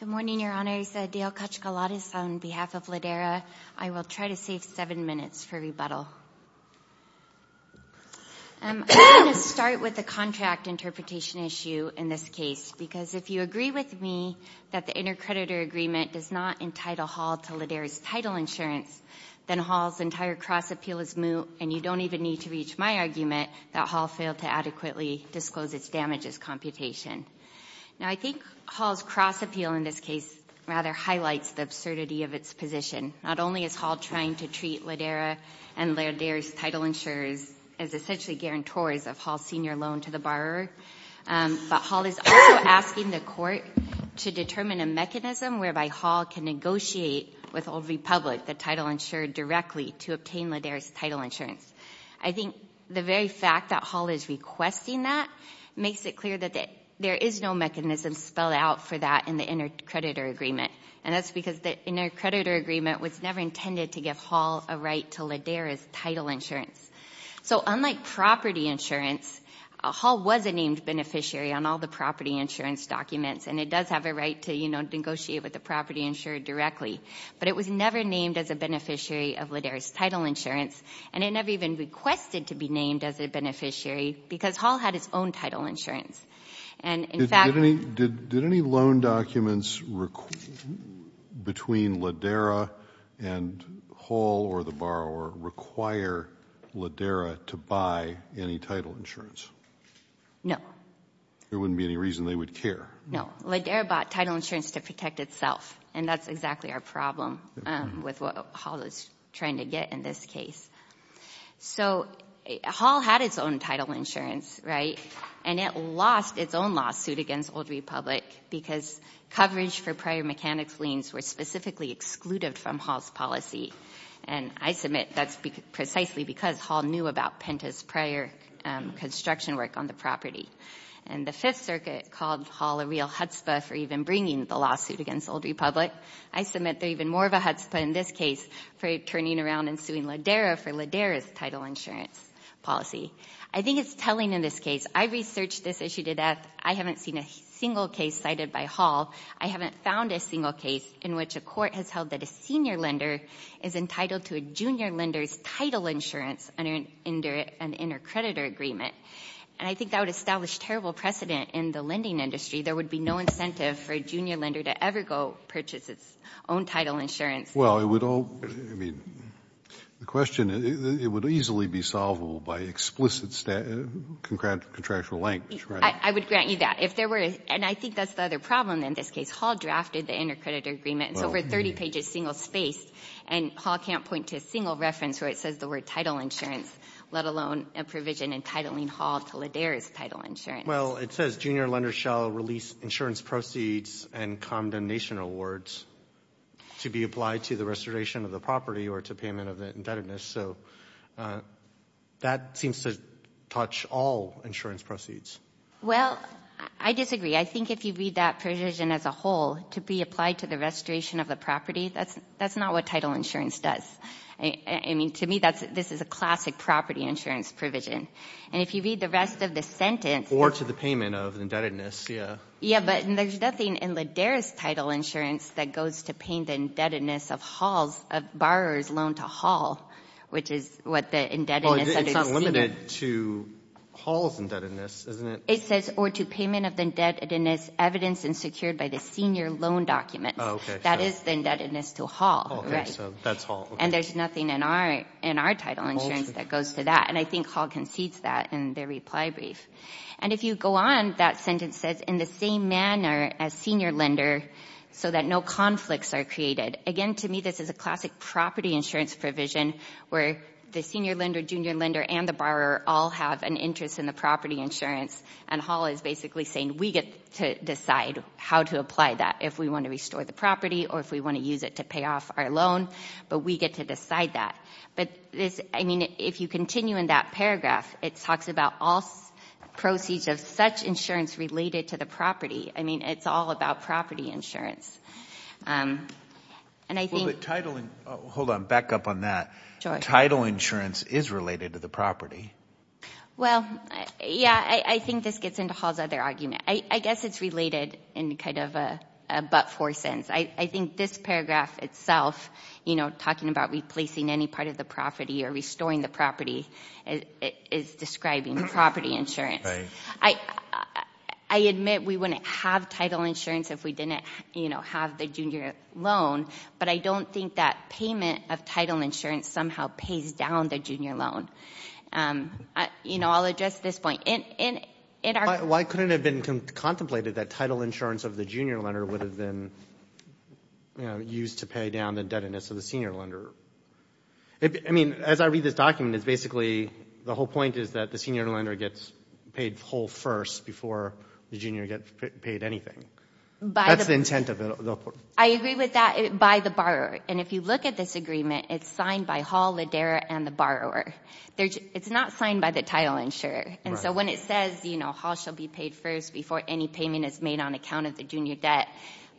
Good morning, Your Honors. Adele Kachkalades on behalf of Ladera. I will try to save seven minutes for rebuttal. I'm going to start with the contract interpretation issue in this case because if you agree with me that the intercreditor agreement does not entitle Hall to Ladera's title insurance, then Hall's entire cross appeal is moot and you don't even need to reach my argument that Hall failed to adequately disclose its damages computation. Now, I think Hall's cross appeal in this case rather highlights the absurdity of its position. Not only is Hall trying to treat Ladera and Ladera's title insurers as essentially guarantors of Hall's senior loan to the borrower, but Hall is also asking the court to determine a mechanism whereby Hall can negotiate with Old Republic, the title insured directly, to obtain Ladera's title insurance. I think the very fact that Hall is requesting that makes it clear that there is no mechanism spelled out for that in the intercreditor agreement, and that's because the intercreditor agreement was never intended to give Hall a right to Ladera's title insurance. So unlike property insurance, Hall was a named beneficiary on all the property insurance documents, and it does have a right to negotiate with the property insurer directly, but it was never named as a beneficiary of Ladera's title insurance, and it never even requested to be named as a beneficiary because Hall had his own title insurance. And, in fact, did any loan documents between Ladera and Hall or the borrower require Ladera to buy any title insurance? No. There wouldn't be any reason they would care. No. Ladera bought title insurance to protect itself, and that's exactly our problem with what Hall is trying to get in this case. So Hall had its own title insurance, right, and it lost its own lawsuit against Old Republic because coverage for prior mechanics liens were specifically excluded from Hall's policy, and I submit that's precisely because Hall knew about Penta's prior construction work on the property. And the Fifth Circuit called Hall a real chutzpah for even bringing the lawsuit against Old Republic. I submit they're even more of a chutzpah in this case for turning around and suing Ladera for Ladera's title insurance policy. I think it's telling in this case. I researched this issue to death. I haven't seen a single case cited by Hall. I haven't found a single case in which a court has held that a senior lender is entitled to a junior lender's title insurance under an inter-creditor agreement, and I think that would establish terrible precedent in the lending industry. There would be no incentive for a junior lender to ever go purchase its own title insurance. Well, it would all, I mean, the question, it would easily be solvable by explicit contractual language, right? I would grant you that. If there were, and I think that's the other problem in this case. Hall drafted the inter-creditor agreement. It's 30 pages, single-spaced, and Hall can't point to a single reference where it says the word title insurance, let alone a provision entitling Hall to Ladera's title insurance. Well, it says junior lenders shall release insurance proceeds and condemnation awards to be applied to the restoration of the property or to payment of the indebtedness, so that seems to touch all insurance proceeds. Well, I disagree. I think if you read that provision as a whole, to be applied to the property, that's not what title insurance does. I mean, to me, this is a classic property insurance provision, and if you read the rest of the sentence. Or to the payment of indebtedness, yeah. Yeah, but there's nothing in Ladera's title insurance that goes to paying the indebtedness of Hall's, of borrower's loan to Hall, which is what the indebtedness under the senior. Well, it's not limited to Hall's indebtedness, isn't it? It says, or to payment of the indebtedness evidenced and secured by the senior loan documents. That is the indebtedness to Hall. And there's nothing in our title insurance that goes to that, and I think Hall concedes that in their reply brief. And if you go on, that sentence says, in the same manner as senior lender so that no conflicts are created. Again, to me, this is a classic property insurance provision where the senior lender, junior lender, and the borrower all have an interest in the property insurance, and Hall is basically saying, we get to decide how to apply that. If we want to restore the property, or if we want to use it to pay off our loan, but we get to decide that. But this, I mean, if you continue in that paragraph, it talks about all proceeds of such insurance related to the property. I mean, it's all about property insurance. And I think. Well, the title, hold on, back up on that. Title insurance is related to the property. Well, yeah, I think this gets into Hall's other argument. I guess it's related in kind of a but-for sense. I think this paragraph itself, you know, talking about replacing any part of the property or restoring the property, is describing property insurance. I admit we wouldn't have title insurance if we didn't, you know, have the junior loan, but I don't think that payment of title insurance somehow pays down the junior loan. You know, I'll address this point. And it are. Why couldn't it have been contemplated that title insurance of the junior lender would have been used to pay down the debtedness of the senior lender? I mean, as I read this document, it's basically, the whole point is that the senior lender gets paid whole first before the junior gets paid anything. That's the intent of it. I agree with that by the borrower. And if you look at this agreement, it's signed by Hall, Lederer, and the borrower. It's not signed by the title insurer. And so when it says, you know, Hall shall be paid first before any payment is made on account of the junior debt,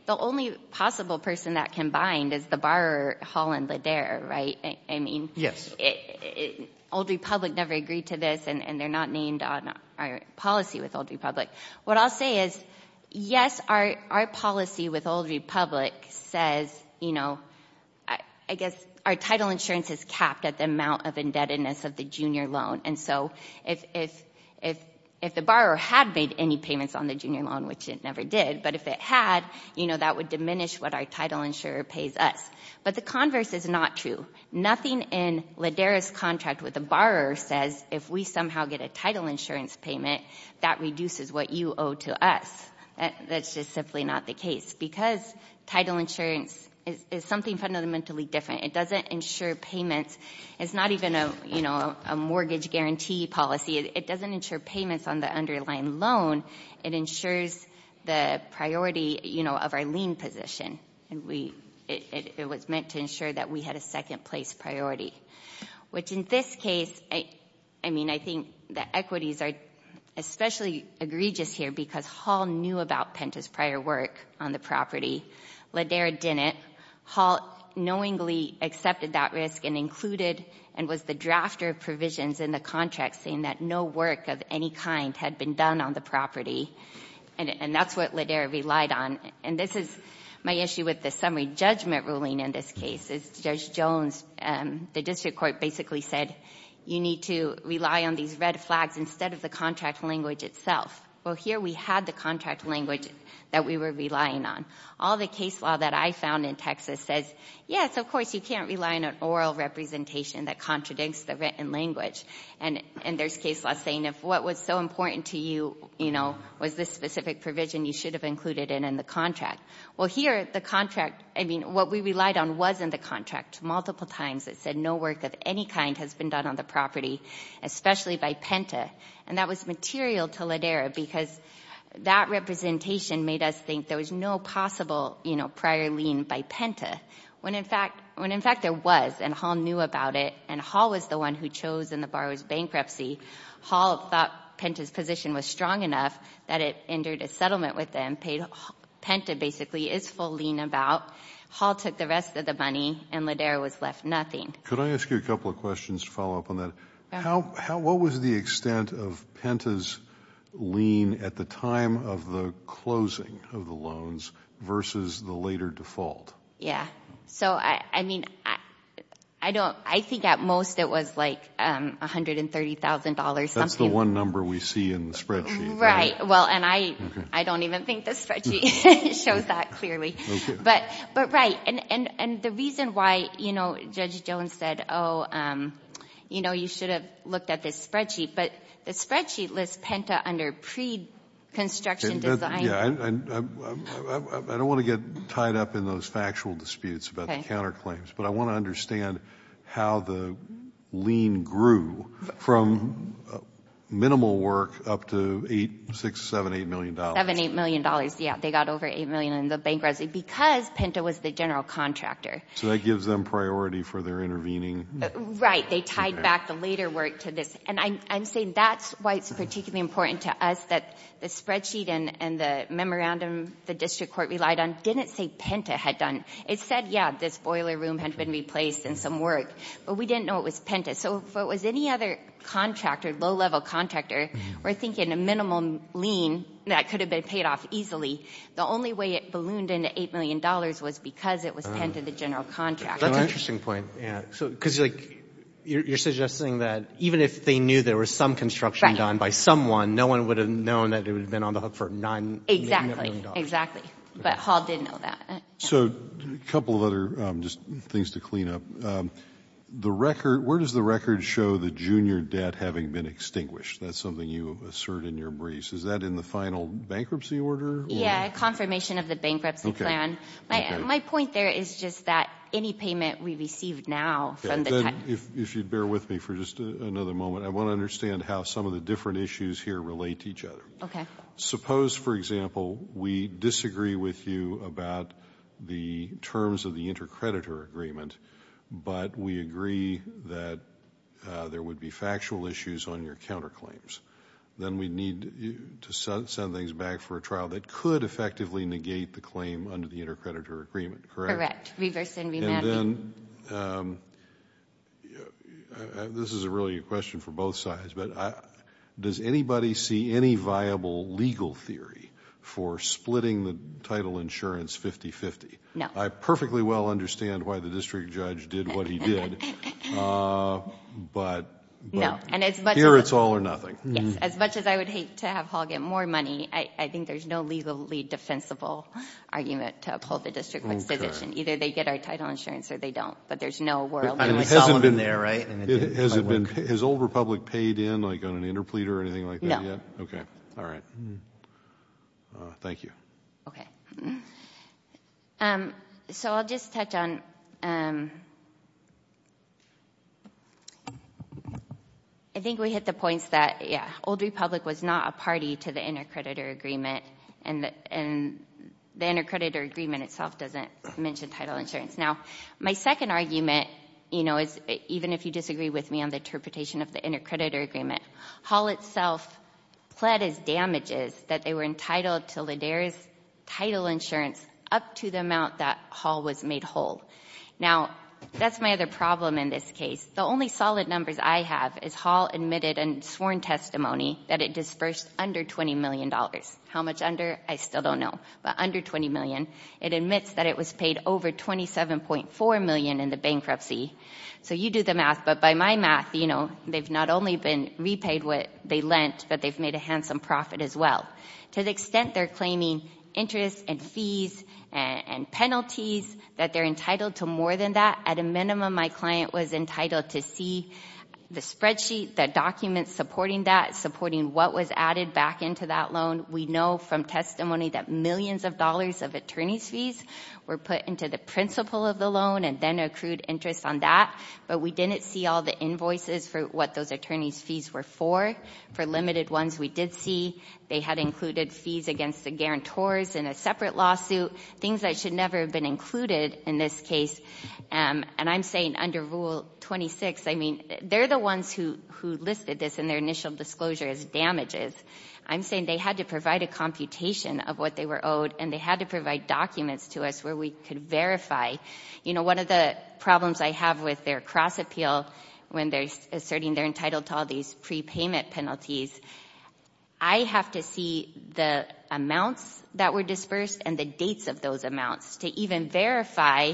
the only possible person that can bind is the borrower, Hall and Lederer, right? I mean, Old Republic never agreed to this, and they're not named on our policy with Old Republic. What I'll say is, yes, our policy with Old Republic says, you know, I guess our title insurance is capped at the amount of indebtedness of the junior loan. And so if the borrower had made any payments on the junior loan, which it never did, but if it had, you know, that would what our title insurer pays us. But the converse is not true. Nothing in Lederer's contract with the borrower says if we somehow get a title insurance payment, that reduces what you owe to us. That's just simply not the case. Because title insurance is something fundamentally different. It doesn't insure payments. It's not even a, you know, a mortgage guarantee policy. It doesn't payments on the underlying loan. It insures the priority, you know, of our lien position. And we, it was meant to insure that we had a second place priority. Which in this case, I mean, I think the equities are especially egregious here because Hall knew about Penta's prior work on the property. Lederer didn't. Hall knowingly accepted that risk and included, and was the drafter of provisions in the contract saying that no work of any kind had been done on the property. And that's what Lederer relied on. And this is my issue with the summary judgment ruling in this case. Judge Jones, the district court basically said, you need to rely on these red flags instead of the contract language itself. Well, here we had the contract language that we were relying on. All the case law that I found in Texas says, yes, of course, you can't rely on an that contradicts the written language. And there's case law saying if what was so important to you, you know, was this specific provision, you should have included it in the contract. Well, here, the contract, I mean, what we relied on was in the contract multiple times that said no work of any kind has been done on the property, especially by Penta. And that was material to Lederer because that representation made us think there was no possible, you know, prior lien by Penta. When in fact there was, and Hall knew about it, and Hall was the one who chose in the borrower's bankruptcy, Hall thought Penta's position was strong enough that it entered a settlement with them, paid Penta basically its full lien about. Hall took the rest of the money and Lederer was left nothing. Could I ask you a couple of questions to follow up on that? What was the extent of Penta's lien at the time of the closing of the loans versus the later default? Yeah. So, I mean, I don't, I think at most it was like $130,000 something. That's the one number we see in the spreadsheet. Right. Well, and I don't even think the spreadsheet shows that clearly. But right, and the reason why, you know, Judge Jones said, oh, you know, you should have looked at this spreadsheet, but the spreadsheet lists Penta under pre-construction design. Yeah. I don't want to get tied up in those factual disputes about the counterclaims, but I want to understand how the lien grew from minimal work up to $8, $6, $7, $8 million. $7, $8 million. Yeah. They got over $8 million in the bankruptcy because Penta was the general contractor. So that gives them priority for their intervening. Right. They tied back the later work to this. And I'm saying that's why it's particularly important to us that the spreadsheet and the memorandum the district court relied on didn't say Penta had done. It said, yeah, this boiler room had been replaced in some work, but we didn't know it was Penta. So if it was any other contractor, low-level contractor, we're thinking a minimum lien that could have been paid off easily. The only way it ballooned into $8 million was because it was Penta, the general contractor. That's an interesting point. Yeah. So, because like you're suggesting that even if they knew there was some construction done by someone, no one would have known that it would have been on the hook for $9 million. Exactly. Exactly. But Hall didn't know that. So a couple of other things to clean up. Where does the record show the junior debt having been extinguished? That's something you assert in your briefs. Is that in the final bankruptcy order? Yeah. Confirmation of the bankruptcy plan. My point there is just that any payment we received now from the- If you'd bear with me for just another moment, I want to understand how some of the different issues here relate to each other. Okay. Suppose, for example, we disagree with you about the terms of the intercreditor agreement, but we agree that there would be factual issues on your counterclaims. Then we need to send things back for a trial that could effectively negate the claim under the intercreditor agreement, correct? Correct. Reverse and remapping. Then, this is really a question for both sides, but does anybody see any viable legal theory for splitting the title insurance 50-50? No. I perfectly well understand why the district judge did what he did, but here it's all or Yes. As much as I would hate to have Hall get more money, I think there's no legally defensible argument to uphold the district judge's position. Either they get our title insurance or they don't, but there's no world- And it hasn't been there, right? Has Old Republic paid in, like on an interpleader or anything like that yet? Okay. All right. Thank you. Okay. So, I'll just touch on... I think we hit the points that, yeah, Old Republic was not a party to the intercreditor agreement, and the intercreditor agreement itself doesn't mention title insurance. Now, my second argument is, even if you disagree with me on the interpretation of the intercreditor agreement, Hall itself pled as damages that they were entitled to LIDER's title insurance up to the amount that Hall was made whole. Now, that's my other problem in this case. The only solid numbers I have is Hall admitted in sworn testimony that it dispersed under $20 million. How much under? I still don't know, but under $20 million. It admits that it was paid over $27.4 million in the bankruptcy. So, you do the math, but by my math, they've not only been repaid what they lent, but they've made a handsome profit as well. To the extent they're claiming interest and fees and penalties that they're entitled to more than that, at a minimum, my client was entitled to see the spreadsheet, the documents supporting that, supporting what was added back into that loan. We know from testimony that millions of dollars of attorney's fees were put into the principle of the loan and then accrued interest on that, but we didn't see all the invoices for what those attorney's fees were for. For limited ones, we did see they had included fees against the guarantors in a separate lawsuit, things that should never have been included in this case. And I'm saying under Rule 26, I mean, they're the ones who listed this in their initial disclosure as damages. I'm saying they had to provide a computation of what they were owed and they had to provide documents to us where we could verify. You know, one of the problems I have with their cross-appeal, when they're asserting they're entitled to all these prepayment penalties, I have to see the amounts that were dispersed and the dates of those amounts to even verify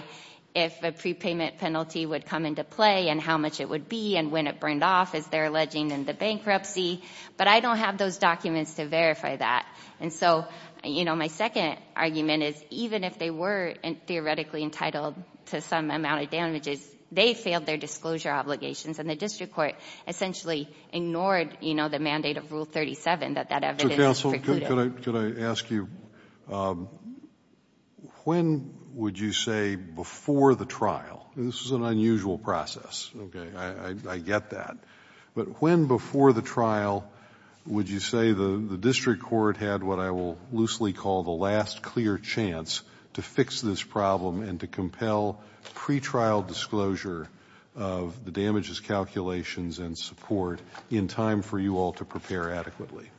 if a prepayment penalty would come into play and how much it would be and when it burned off, as they're alleging, and the bankruptcy. But I don't have those documents to verify that. And so, you know, my second argument is even if they were theoretically entitled to some amount of damages, they failed their disclosure obligations and the district court essentially ignored, you know, the mandate of Rule 37 that that evidence is precluded. Could I ask you, when would you say before the trial, this is an unusual process, okay, I get that, but when before the trial would you say the district court had what I will loosely call the last clear chance to fix this problem and to compel pretrial disclosure of the damages calculations and support in time for you all to prepare adequately?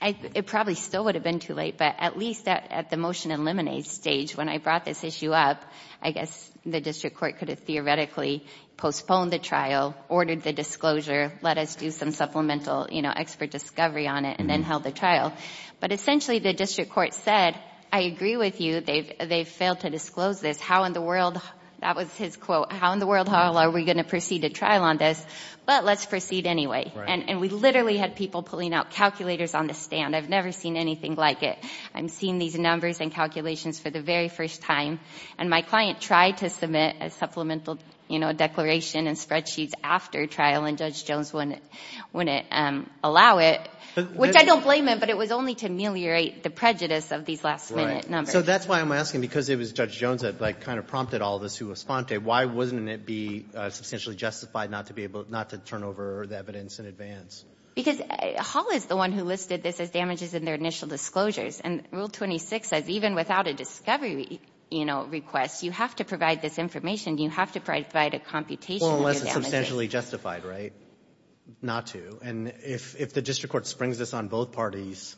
It probably still would have been too late, but at least at the motion eliminate stage, when I brought this issue up, I guess the district court could have theoretically postponed the trial, ordered the disclosure, let us do some supplemental, you know, expert discovery on it and then held the trial. But essentially, the district court said, I agree with you, they've failed to disclose this. How in the world, that was his quote, how in the world hell are we going to proceed a trial on this? But let's proceed anyway. And we literally had people pulling out calculators on the stand. I've never seen anything like it. I'm seeing these numbers and calculations for the very first time. And my client tried to submit a supplemental, you know, declaration and spreadsheets after trial and Judge Jones wouldn't allow it, which I don't blame him, but it was only to ameliorate the prejudice of these last minute numbers. So that's why I'm asking, because it was Judge Jones that like kind of prompted all this, who was Fonte, why wouldn't it be substantially justified not to be able, not to turn over the evidence in advance? Because Hall is the one who listed this as damages in their initial disclosures. And Rule 26 says, even without a discovery, you know, request, you have to provide this information. You have to provide a computation. Well, unless it's substantially justified, right? Not to. And if the district court springs this on both parties,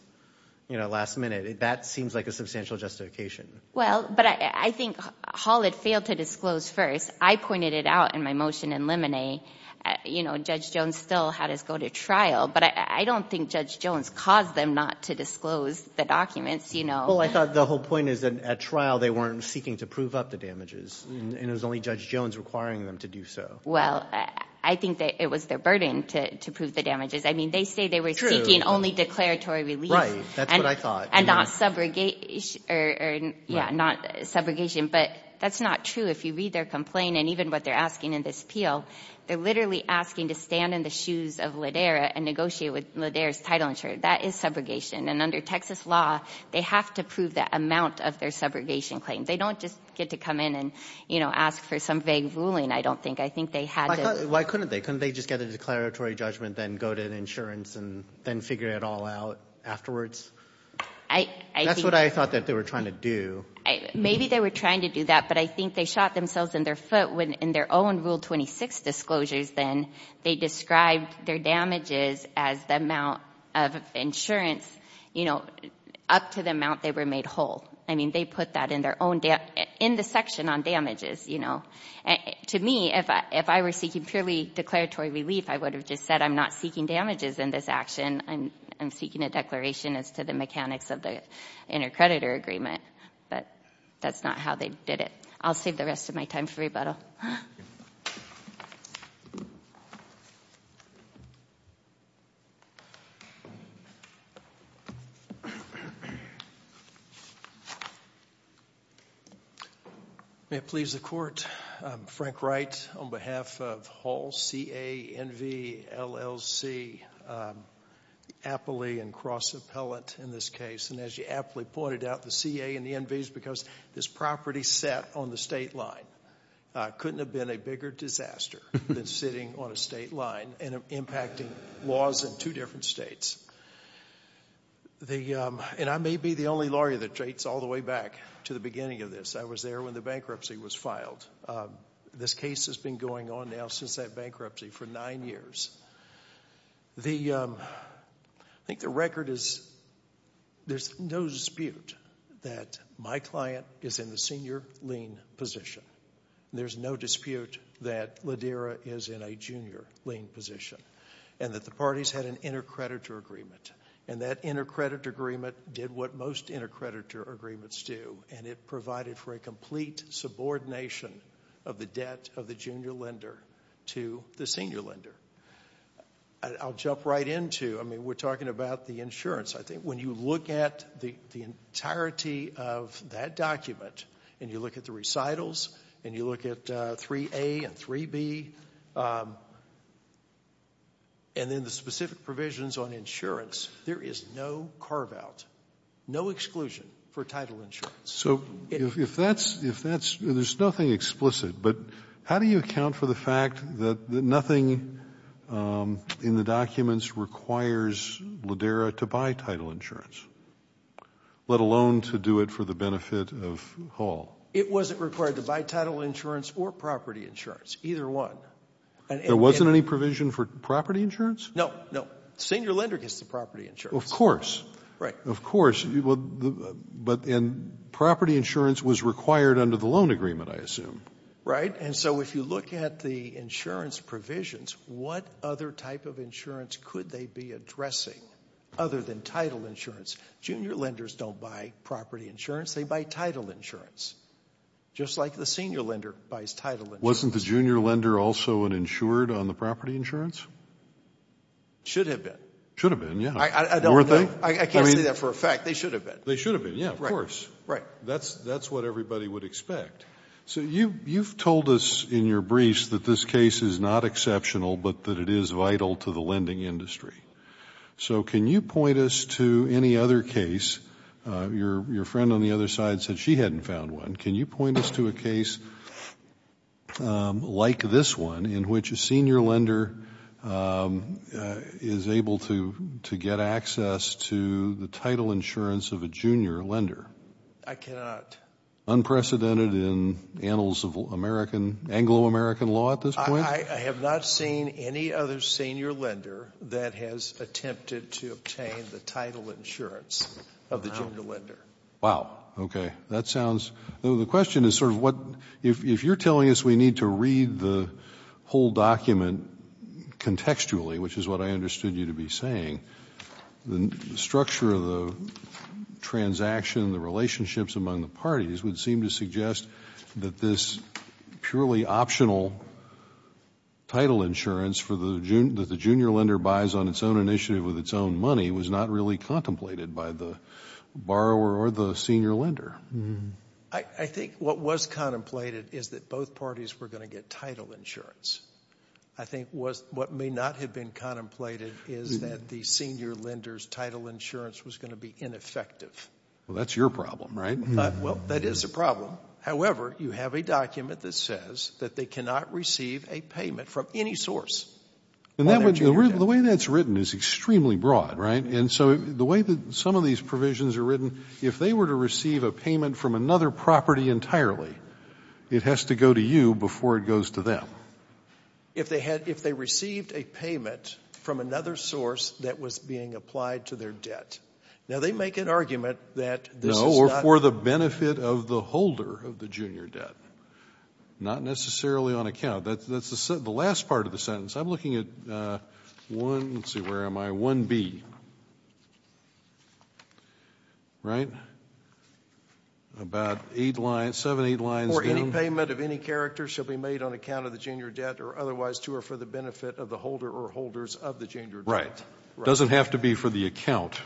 you know, last minute, that seems like a substantial justification. Well, but I think Hall had failed to disclose first. I pointed it out in my motion in limine. You know, Judge Jones still had us go to trial, but I don't think Judge Jones caused them not to disclose the documents, you know? Well, I thought the whole point is that at trial, they weren't seeking to prove up the damages and it was only Judge Jones requiring them to do so. Well, I think that it was their burden to prove the damages. I mean, they say they were seeking only declaratory release. Right. That's what I thought. And not subrogation, but that's not true. If you read their complaint and even what they're asking in this appeal, they're literally asking to stand in the shoes of Ladera and negotiate with Ladera's title insurer. That is subrogation. And under Texas law, they have to prove that amount of their subrogation claim. They don't just get to come in and, you know, ask for some vague ruling, I don't think. I think they had to. Why couldn't they? Couldn't they just get a declaratory judgment, then go to insurance, and then figure it all out afterwards? That's what I thought that they were trying to do. Maybe they were trying to do that, but I think they shot themselves in their foot when in their own Rule 26 disclosures, then they described their damages as the amount of insurance, you know, up to the amount they were made whole. I mean, they put that in their own in the section on damages, you know. To me, if I were seeking purely declaratory relief, I would have just said, I'm not seeking damages in this action. I'm seeking a declaration as to the mechanics of the intercreditor agreement. But that's not how they did it. I'll save the rest of my time for rebuttal. May it please the Court, I'm Frank Wright on behalf of Hall, CA, NV, LLC, Appley, and Cross Appellate in this case. And as you aptly pointed out, the CA and the NVs this property set on the state line. Couldn't have been a bigger disaster than sitting on a state line and impacting laws in two different states. And I may be the only lawyer that dates all the way back to the beginning of this. I was there when the bankruptcy was filed. This case has been going on now since that bankruptcy for nine years. I think the record is, there's no dispute that my client is in the senior lien position. There's no dispute that Ladera is in a junior lien position. And that the parties had an intercreditor agreement. And that intercreditor agreement did what most intercreditor agreements do, and it provided for a complete subordination of the debt of the junior lender to the senior lender. And I'll jump right into, I mean, we're talking about the insurance. I think when you look at the entirety of that document, and you look at the recitals, and you look at 3A and 3B, and then the specific provisions on insurance, there is no carve out, no exclusion for title insurance. So if that's, if that's, there's nothing explicit, but how do you account for the fact that nothing in the documents requires Ladera to buy title insurance, let alone to do it for the benefit of Hall? It wasn't required to buy title insurance or property insurance. Either one. There wasn't any provision for property insurance? No, no. Senior lender gets the property insurance. Of course. Right. Of course. But property insurance was required under the loan agreement, I assume. Right. And so if you look at the insurance provisions, what other type of insurance could they be addressing other than title insurance? Junior lenders don't buy property insurance. They buy title insurance, just like the senior lender buys title insurance. Wasn't the junior lender also an insured on the property insurance? Should have been. Should have been, yeah. I don't know. I can't say that for a fact. They should have been. They should have been, yeah, of course. Right. That's what everybody would expect. So you've told us in your briefs that this case is not exceptional, but that it is vital to the lending industry. So can you point us to any other case? Your friend on the other side said she hadn't found one. Can you point us to a case like this one in which a senior lender is able to get access to the title insurance of a junior lender? I cannot. Unprecedented in annals of Anglo-American law at this point? I have not seen any other senior lender that has attempted to obtain the title insurance of the junior lender. Wow. Okay. That sounds, the question is sort of what, if you're telling us we need to read the whole document contextually, which is what I understood you to be saying, the structure of the transaction, the relationships among the parties would seem to suggest that this purely optional title insurance that the junior lender buys on its own initiative with its own money was not really contemplated by the borrower or the senior lender. I think what was contemplated is that both parties were going to get title insurance. I think what may not have been contemplated is that the senior lender's title insurance was going to be ineffective. Well, that's your problem, right? Well, that is a problem. However, you have a document that says that they cannot receive a payment from any source. The way that's written is extremely broad, right? And so the way that some of these provisions are written, if they were to receive a payment from another property entirely, it has to go to you before it goes to them. If they received a payment from another source that was being applied to their debt. Now, they make an argument that this is not... No, or for the benefit of the holder of the junior debt. Not necessarily on account. That's the last part of the sentence. I'm looking at one, let's see, where am I? 1B, right? About eight lines, seven, eight lines down. For any payment of any character shall be made on account of the junior debt or otherwise to or for the benefit of the holder or holders of the junior debt. Right. Doesn't have to be for the account.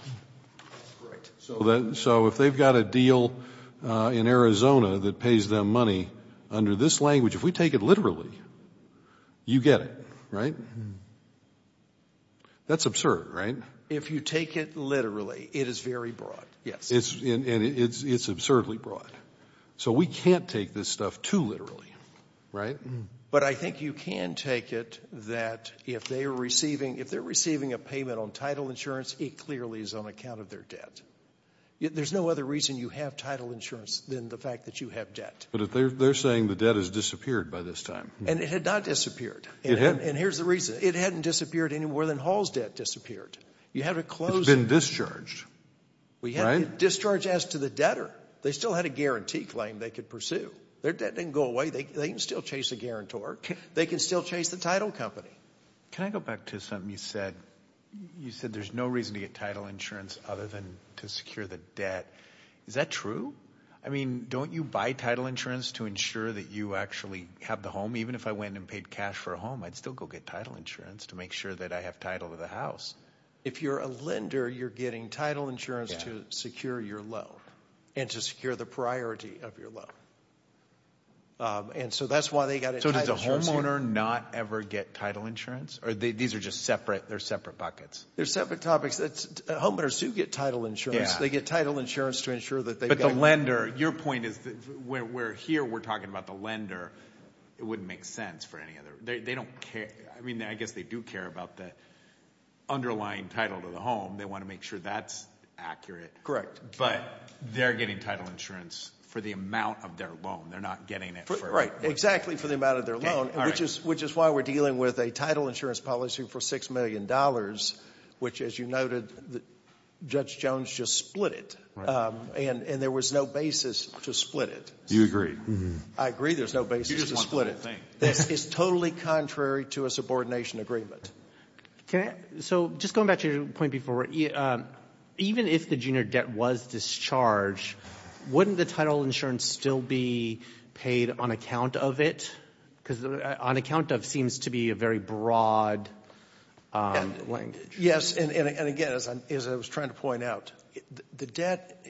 Right. So if they've got a deal in Arizona that pays them money under this language, if we take it literally, you get it, right? That's absurd, right? If you take it literally, it is very broad, yes. It's absurdly broad. So we can't take this stuff too literally. Right. But I think you can take it that if they're receiving a payment on title insurance, it clearly is on account of their debt. There's no other reason you have title insurance than the fact that you have debt. But they're saying the debt has disappeared by this time. And it had not disappeared. And here's the reason, it hadn't disappeared any more than Hall's debt disappeared. You had to close it. It's been discharged. We had it discharged as to the debtor. They still had a guarantee claim they could pursue. Their debt didn't go away. They can still chase a guarantor. They can still chase the title company. Can I go back to something you said? You said there's no reason to get title insurance other than to secure the debt. Is that true? I mean, don't you buy title insurance to ensure that you actually have the home? Even if I went and paid cash for a home, I'd still go get title insurance to make sure that I have title of the house. If you're a lender, you're getting title insurance to secure your loan and to secure the priority of your loan. And so that's why they got it. So does a homeowner not ever get title insurance or these are just separate? They're separate buckets. They're separate topics. Homeowners do get title insurance. They get title insurance to ensure that they've got it. But the lender, your point is where here we're talking about the lender, it wouldn't make sense for any other. They don't care. I mean, I guess they do care about the underlying title to the home. They want to make sure that's accurate. Correct. But they're getting title insurance for the amount of their loan. They're not getting it for... Exactly for the amount of their loan, which is why we're dealing with a title insurance policy for $6 million, which as you noted, Judge Jones just split it. And there was no basis to split it. You agree. I agree. There's no basis to split it. This is totally contrary to a subordination agreement. So just going back to your point before, even if the junior debt was discharged, wouldn't the title insurance still be paid on account of it? Because on account of seems to be a very broad language. Yes. And again, as I was trying to point out, the debt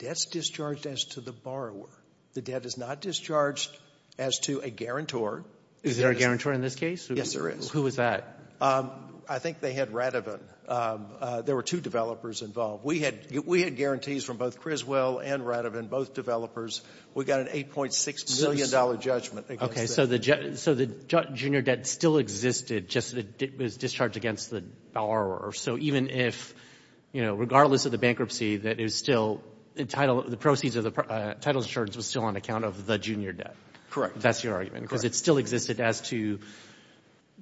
is discharged as to the borrower. The debt is not discharged as to a guarantor. Is there a guarantor in this case? Yes, there is. Who is that? I think they had Radovan. There were two developers involved. We had guarantees from both Criswell and Radovan, both developers. We got an $8.6 million judgment. Okay. So the junior debt still existed, just that it was discharged against the borrower. So even if, you know, regardless of the bankruptcy, that it was still entitled, the proceeds of the title insurance was still on account of the junior debt. Correct. That's your argument. Because it still existed as to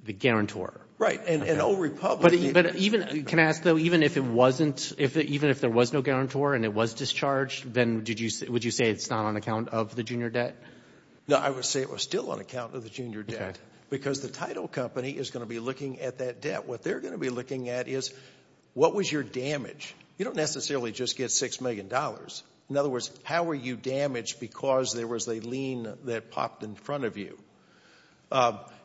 the guarantor. Right. And Old Republic. But even, can I ask though, even if it wasn't, even if there was no guarantor and it was discharged, then would you say it's not on account of the junior debt? No, I would say it was still on account of the junior debt because the title company is going to be looking at that debt. What they're going to be looking at is what was your damage? You don't necessarily just get $6 million. In other words, how were you damaged because there was a lien that popped in front of you?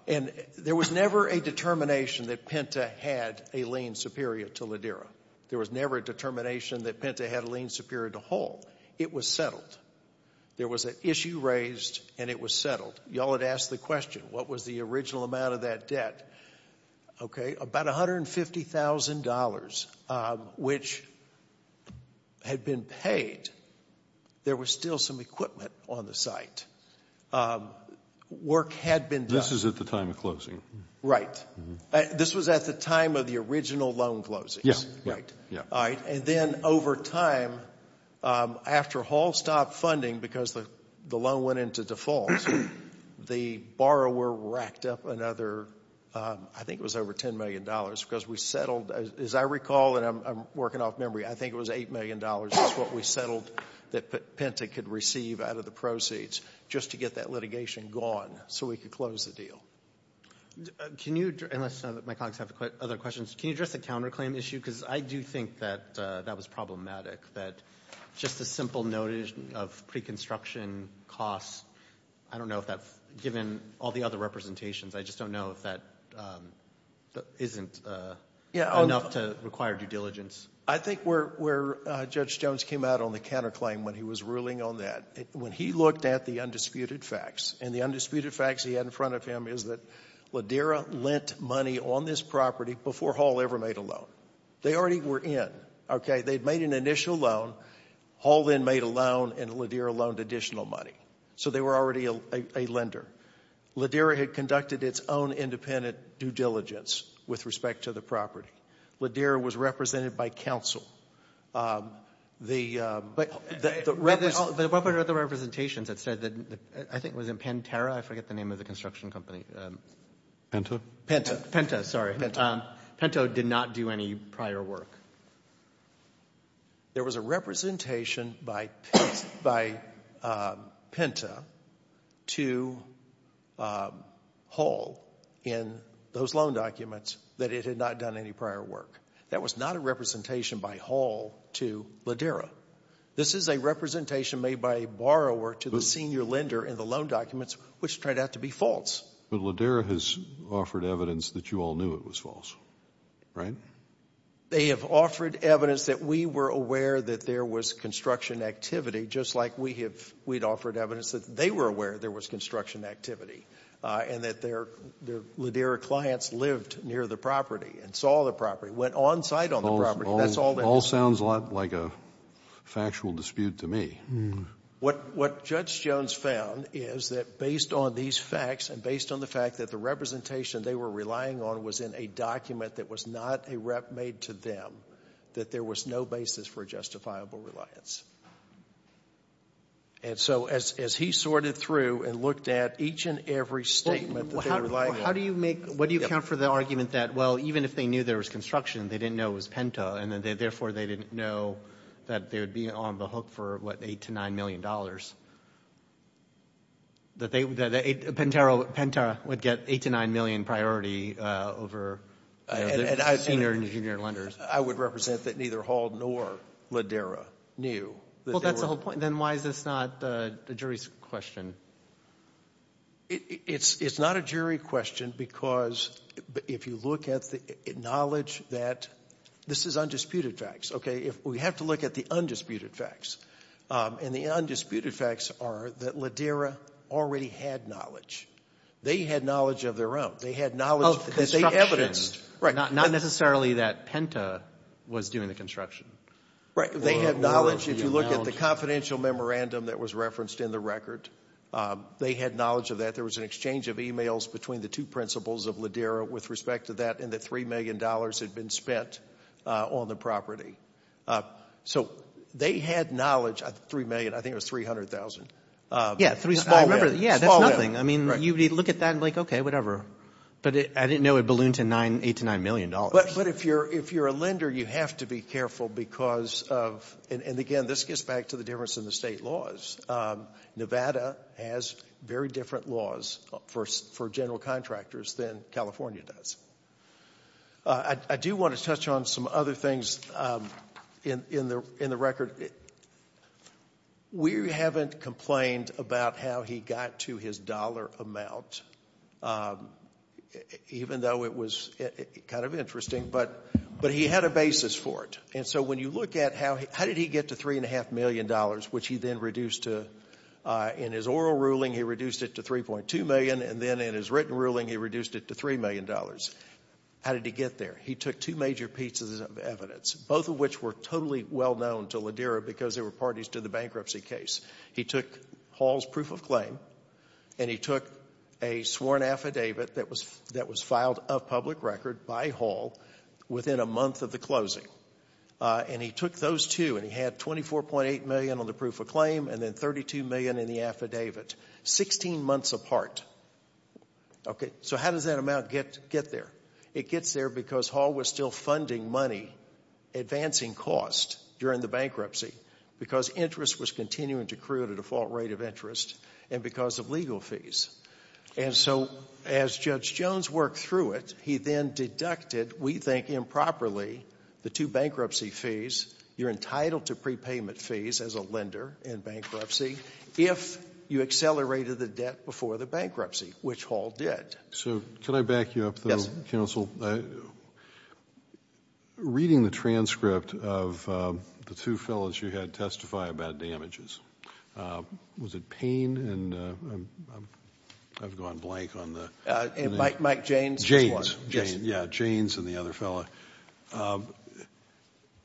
And there was never a determination that Penta had a lien superior to Ladera. There was never a determination that Penta had a lien superior to Hull. It was settled. There was an issue raised and it was settled. Y'all had asked the question, what was the original amount of that debt? Okay, about $150,000, which had been paid. There was still some equipment on the site. Work had been done. This is at the time of closing. Right. This was at the time of the original loan closings. Yeah, yeah. All right, and then over time, after Hull stopped funding because the loan went into default, the borrower racked up another, I think it was over $10 million because we settled, as I recall, and I'm working off memory, I think it was $8 million is what we settled that Penta could receive out of the proceeds. Just to get that litigation gone so we could close the deal. Can you, unless my colleagues have other questions, can you address the counterclaim issue? Because I do think that that was problematic, that just a simple notice of pre-construction costs, I don't know if that, given all the other representations, I just don't know if that isn't enough to require due diligence. I think where Judge Jones came out on the counterclaim when he was ruling on that, when he looked at the undisputed facts, and the undisputed facts he had in front of him is that Ladera lent money on this property before Hull ever made a loan. They already were in, okay? They'd made an initial loan, Hull then made a loan, and Ladera loaned additional money. So they were already a lender. Ladera had conducted its own independent due diligence with respect to the property. Ladera was represented by counsel. But what about the representations that said that, I think it was in Pantera, I forget the name of the construction company. Penta, sorry. Penta did not do any prior work. There was a representation by Penta to Hull in those loan documents that it had not done any prior work. That was not a representation by Hull to Ladera. This is a representation made by a borrower to the senior lender in the loan documents, which turned out to be false. But Ladera has offered evidence that you all knew it was false, right? They have offered evidence that we were aware that there was construction activity, just like we'd offered evidence that they were aware there was construction activity, and that their Ladera clients lived near the property and saw the property, went on site on the property. That's all they did. All sounds a lot like a factual dispute to me. What Judge Jones found is that based on these facts and based on the fact that the representation they were relying on was in a document that was not a rep made to them, that there was no basis for justifiable reliance. And so as he sorted through and looked at each and every statement that they were lying on. How do you make, what do you count for the argument that, well, even if they knew there was construction, they didn't know it was Penta, and then therefore they didn't know that they would be on the hook for what, eight to nine million dollars? Penta would get eight to nine million priority over senior and junior lenders. I would represent that neither Hall nor Ladera knew. Well, that's the whole point. Then why is this not the jury's question? It's not a jury question because if you look at the knowledge that, this is undisputed facts, okay? If we have to look at the undisputed facts, and the undisputed facts are that Ladera already had knowledge. They had knowledge of their own. They had knowledge that they evidenced. Not necessarily that Penta was doing the construction. Right. They had knowledge. If you look at the confidential memorandum that was referenced in the record, they had knowledge of that. There was an exchange of emails between the two principals of Ladera with respect to that, and that three million dollars had been spent on the property. So they had knowledge. Three million. I think it was 300,000. Yeah, three million. I remember. Yeah, that's nothing. I mean, you look at that and like, okay, whatever. But I didn't know it ballooned to eight to nine million dollars. But if you're a lender, you have to be careful because of, and again, this gets back to the difference in the state laws. Nevada has very different laws for general contractors than California does. I do want to touch on some other things in the record. We haven't complained about how he got to his dollar amount, even though it was kind of interesting, but he had a basis for it. And so when you look at how did he get to three and a half million dollars, which he then reduced to in his oral ruling, he reduced it to three point two million. And then in his written ruling, he reduced it to three million dollars. How did he get there? He took two major pieces of evidence, both of which were totally well known to Ladera because they were parties to the bankruptcy case. He took Hall's proof of claim and he took a sworn affidavit that was that was filed of public record by Hall within a month of the closing. And he took those two and he had 24.8 million on the proof of claim and then 32 million in the affidavit, 16 months apart. Okay, so how does that amount get there? It gets there because Hall was still funding money, advancing cost during the bankruptcy because interest was continuing to create a default rate of interest and because of legal fees. And so as Judge Jones worked through it, he then deducted, we think improperly, the two bankruptcy fees. You're entitled to prepayment fees as a lender in bankruptcy if you accelerated the debt before the bankruptcy, which Hall did. So can I back you up though, counsel? Yes. Reading the transcript of the two fellows you had testify about damages, was it Payne and I've gone blank on the... Mike Jaynes. Jaynes, yeah, Jaynes and the other fellow.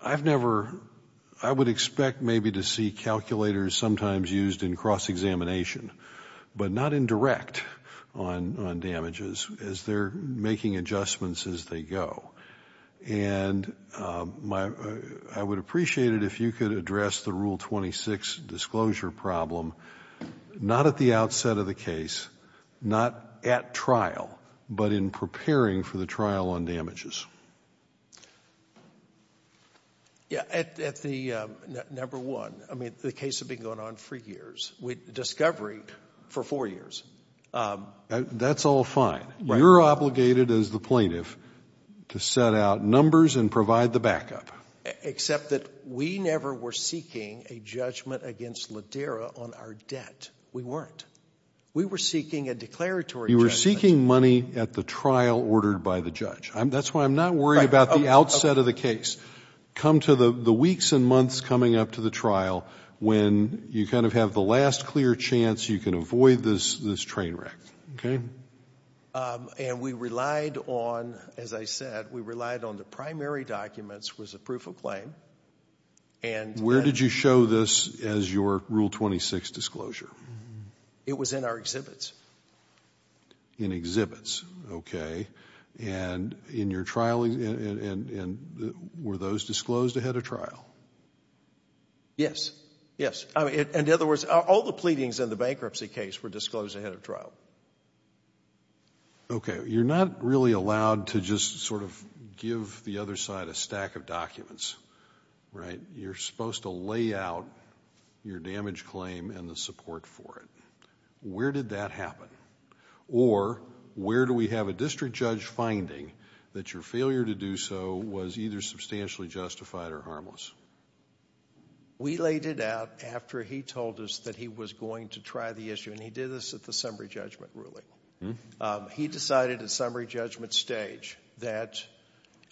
I've never, I would expect maybe to see calculators sometimes used in cross-examination but not indirect on damages as they're making adjustments as they go. And I would appreciate it if you could address the Rule 26 disclosure problem, not at the outset of the case, not at trial, but in preparing for the trial on damages. Yeah, at the number one, I mean, the case had been going on for years, with discovery for four years. That's all fine. You're obligated as the plaintiff to set out numbers and provide the backup. Except that we never were seeking a judgment against Lidera on our debt. We weren't. We were seeking a declaratory judgment. You were seeking money at the trial ordered by the judge. That's why I'm not worried about the outset of the case. Come to the weeks and months coming up to the trial when you kind of have the last clear chance you can avoid this train wreck. And we relied on, as I said, we relied on the primary documents was a proof of claim. Where did you show this as your Rule 26 disclosure? It was in our exhibits. In exhibits, okay. And in your trial, were those disclosed ahead of trial? Yes. Yes. In other words, all the pleadings in the bankruptcy case were disclosed ahead of trial. Okay. You're not really allowed to just sort of give the other side a stack of documents, right? You're supposed to lay out your damage claim and the support for it. Where did that happen? Or where do we have a district judge finding that your failure to do so was either substantially justified or harmless? We laid it out after he told us that he was going to try the issue. And he did this at the summary judgment ruling. He decided at summary judgment stage that,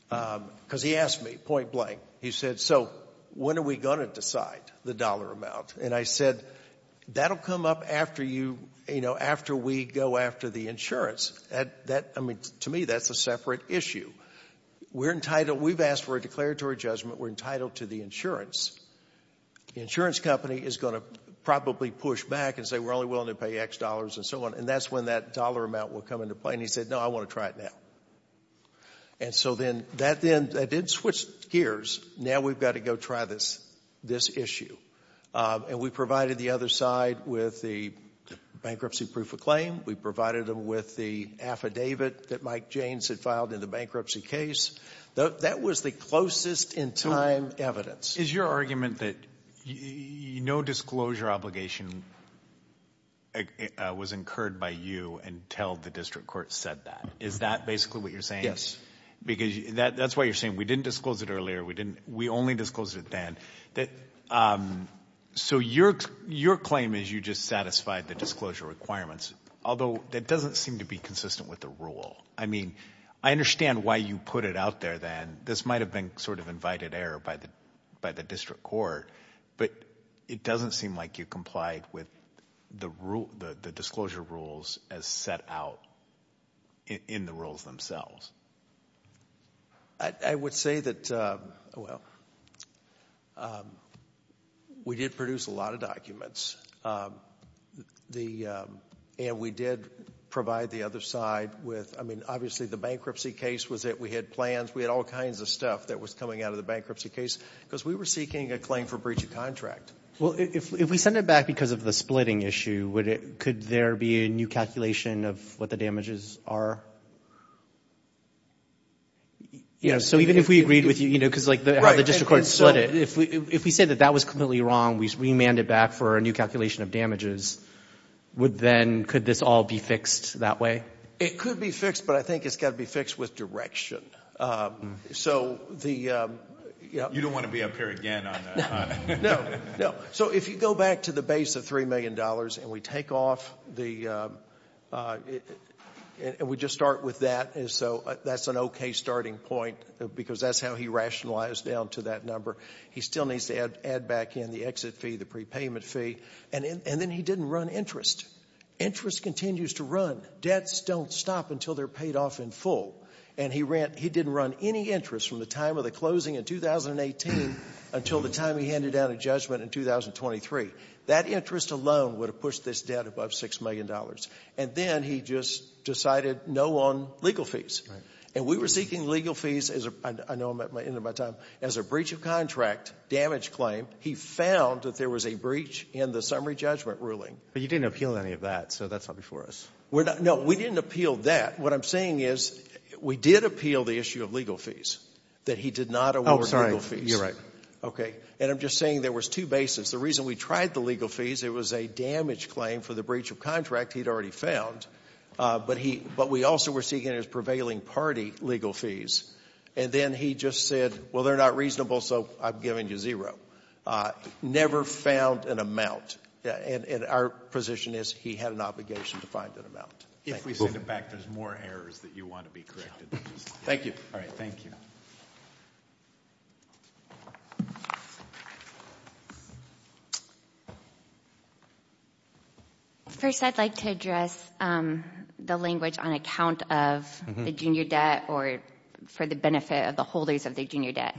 because he asked me point blank. He said, so when are we going to decide the dollar amount? And I said, that'll come up after we go after the insurance. To me, that's a separate issue. We've asked for a declaratory judgment. We're entitled to the insurance. The insurance company is going to probably push back and say, we're only willing to pay X dollars and so on. And that's when that dollar amount will come into play. And he said, no, I want to try it now. And so then that did switch gears. Now we've got to go try this issue. And we provided the other side with the bankruptcy proof of claim. We provided them with the affidavit that Mike Jaynes had filed in the bankruptcy case. That was the closest in time evidence. Is your argument that no disclosure obligation was incurred by you until the district court said that? Is that basically what you're saying? Yes. Because that's why you're saying, we didn't disclose it earlier. We only disclosed it then. So your claim is you just satisfied the disclosure requirements. Although that doesn't seem to be consistent with the rule. I mean, I understand why you put it out there then. This might have been sort of invited error by the district court. But it doesn't seem like you complied with the disclosure rules as set out in the rules themselves. I would say that, well, we did produce a lot of documents. And we did provide the other side with, I mean, obviously the bankruptcy case was it. We had plans. We had all kinds of stuff that was coming out of the bankruptcy case. Because we were seeking a claim for breach of contract. Well, if we send it back because of the splitting issue, could there be a new calculation of what the damages are? So even if we agreed with you, because how the district court split it, if we say that that was completely wrong, we remand it back for a new calculation of damages, would then, could this all be fixed that way? It could be fixed. But I think it's got to be fixed with direction. So the... You don't want to be up here again on that, do you? No, no. So if you go back to the base of $3 million and we take off the... And we just start with that. And so that's an okay starting point because that's how he rationalized down to that number. He still needs to add back in the exit fee, the prepayment fee. And then he didn't run interest. Interest continues to run. Debts don't stop until they're paid off in full. And he didn't run any interest from the time of the closing in 2018 until the time he handed down a judgment in 2023. That interest alone would have pushed this debt above $6 million. And then he just decided no on legal fees. And we were seeking legal fees as a... I know I'm at the end of my time. As a breach of contract damage claim, he found that there was a breach in the summary judgment ruling. But you didn't appeal any of that. So that's not before us. We're not... No, we didn't appeal that. What I'm saying is we did appeal the issue of legal fees, that he did not award legal fees. You're right. Okay. And I'm just saying there was two bases. The reason we tried the legal fees, it was a damage claim for the breach of contract he'd already found. But we also were seeking his prevailing party legal fees. And then he just said, well, they're not reasonable, so I'm giving you zero. Never found an amount. And our position is he had an obligation to find an amount. If we send it back, there's more errors that you want to be corrected. Thank you. All right. Thank you. First, I'd like to address the language on account of the junior debt or for the benefit of the holders of the junior debt.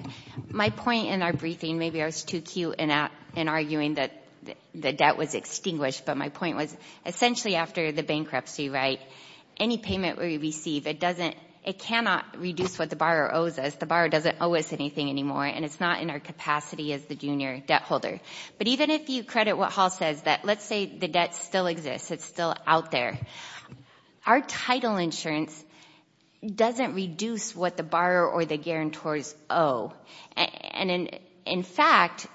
My point in our briefing, maybe I was too cute in arguing that the debt was extinguished, but my point was essentially after the bankruptcy, right, any payment we receive, it doesn't, it cannot reduce what the borrower owes us. The borrower doesn't owe us anything anymore. And it's not in our capacity as the junior debt holder. But even if you credit what Hall says, that let's say the debt still exists. It's still out there. Our title insurance doesn't reduce what the borrower or the guarantors owe. And in fact,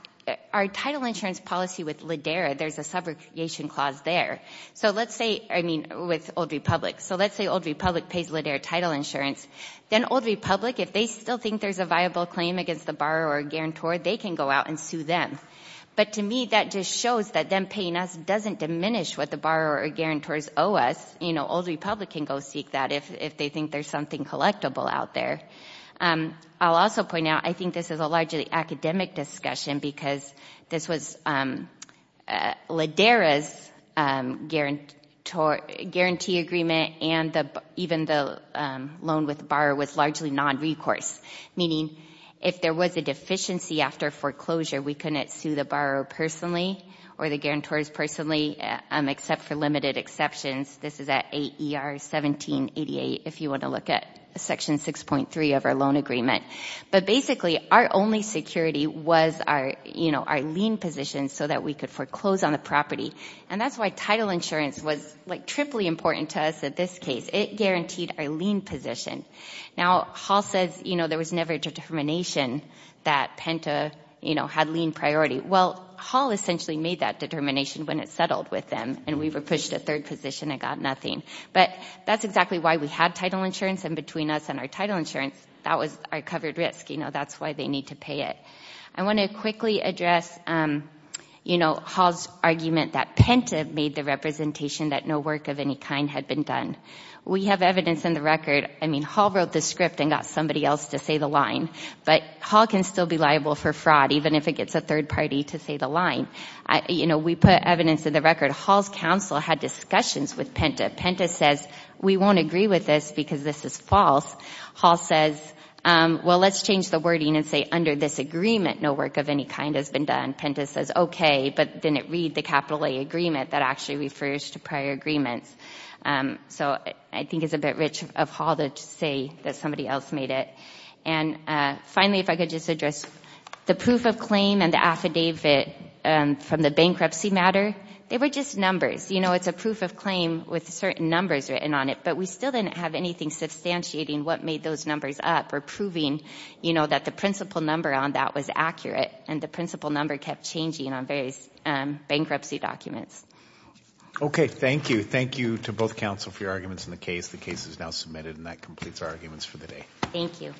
our title insurance policy with LIDERA, there's a subrogation clause there. So let's say, I mean, with Old Republic. So let's say Old Republic pays LIDERA title insurance. Then Old Republic, if they still think there's a viable claim against the borrower or guarantor, they can go out and sue them. But to me, that just shows that them paying us doesn't diminish what the borrower or guarantors owe us. You know, Old Republic can go seek that if they think there's something collectible out there. I'll also point out, I think this is a largely academic discussion because this was LIDERA's guarantee agreement and even the loan with borrower was largely non-recourse. Meaning, if there was a deficiency after foreclosure, we couldn't sue the borrower personally or the guarantors personally except for limited exceptions. This is at 8 ER 1788, if you want to look at section 6.3 of our loan agreement. But basically, our only security was our, you know, our lien position so that we could foreclose on the property. And that's why title insurance was like triply important to us at this case. It guaranteed our lien position. Now, Hall says, you know, there was never a determination that Penta, you know, had lien priority. Well, Hall essentially made that determination when it settled with them and we were pushed to third position and got nothing. But that's exactly why we had title insurance and between us and our title insurance, that was our covered risk. You know, that's why they need to pay it. I want to quickly address, you know, Hall's argument that Penta made the representation that no work of any kind had been done. We have evidence in the record. I mean, Hall wrote the script and got somebody else to say the line. But Hall can still be liable for fraud, even if it gets a third party to say the line. You know, we put evidence in the record. Hall's counsel had discussions with Penta. Penta says, we won't agree with this because this is false. Hall says, well, let's change the wording and say under this agreement, no work of any kind has been done. Penta says, okay, but then it read the capital A agreement that actually refers to prior agreements. So I think it's a bit rich of Hall to say that somebody else made it. And finally, if I could just address the proof of claim and the affidavit from the bankruptcy matter, they were just numbers. You know, it's a proof of claim with certain numbers written on it, but we still didn't have anything substantiating what made those numbers up or proving, you know, that the principal number on that was accurate and the principal number kept changing on various bankruptcy documents. Okay. Thank you. Thank you to both counsel for your arguments in the case. The case is now submitted and that completes our arguments for the day. Thank you.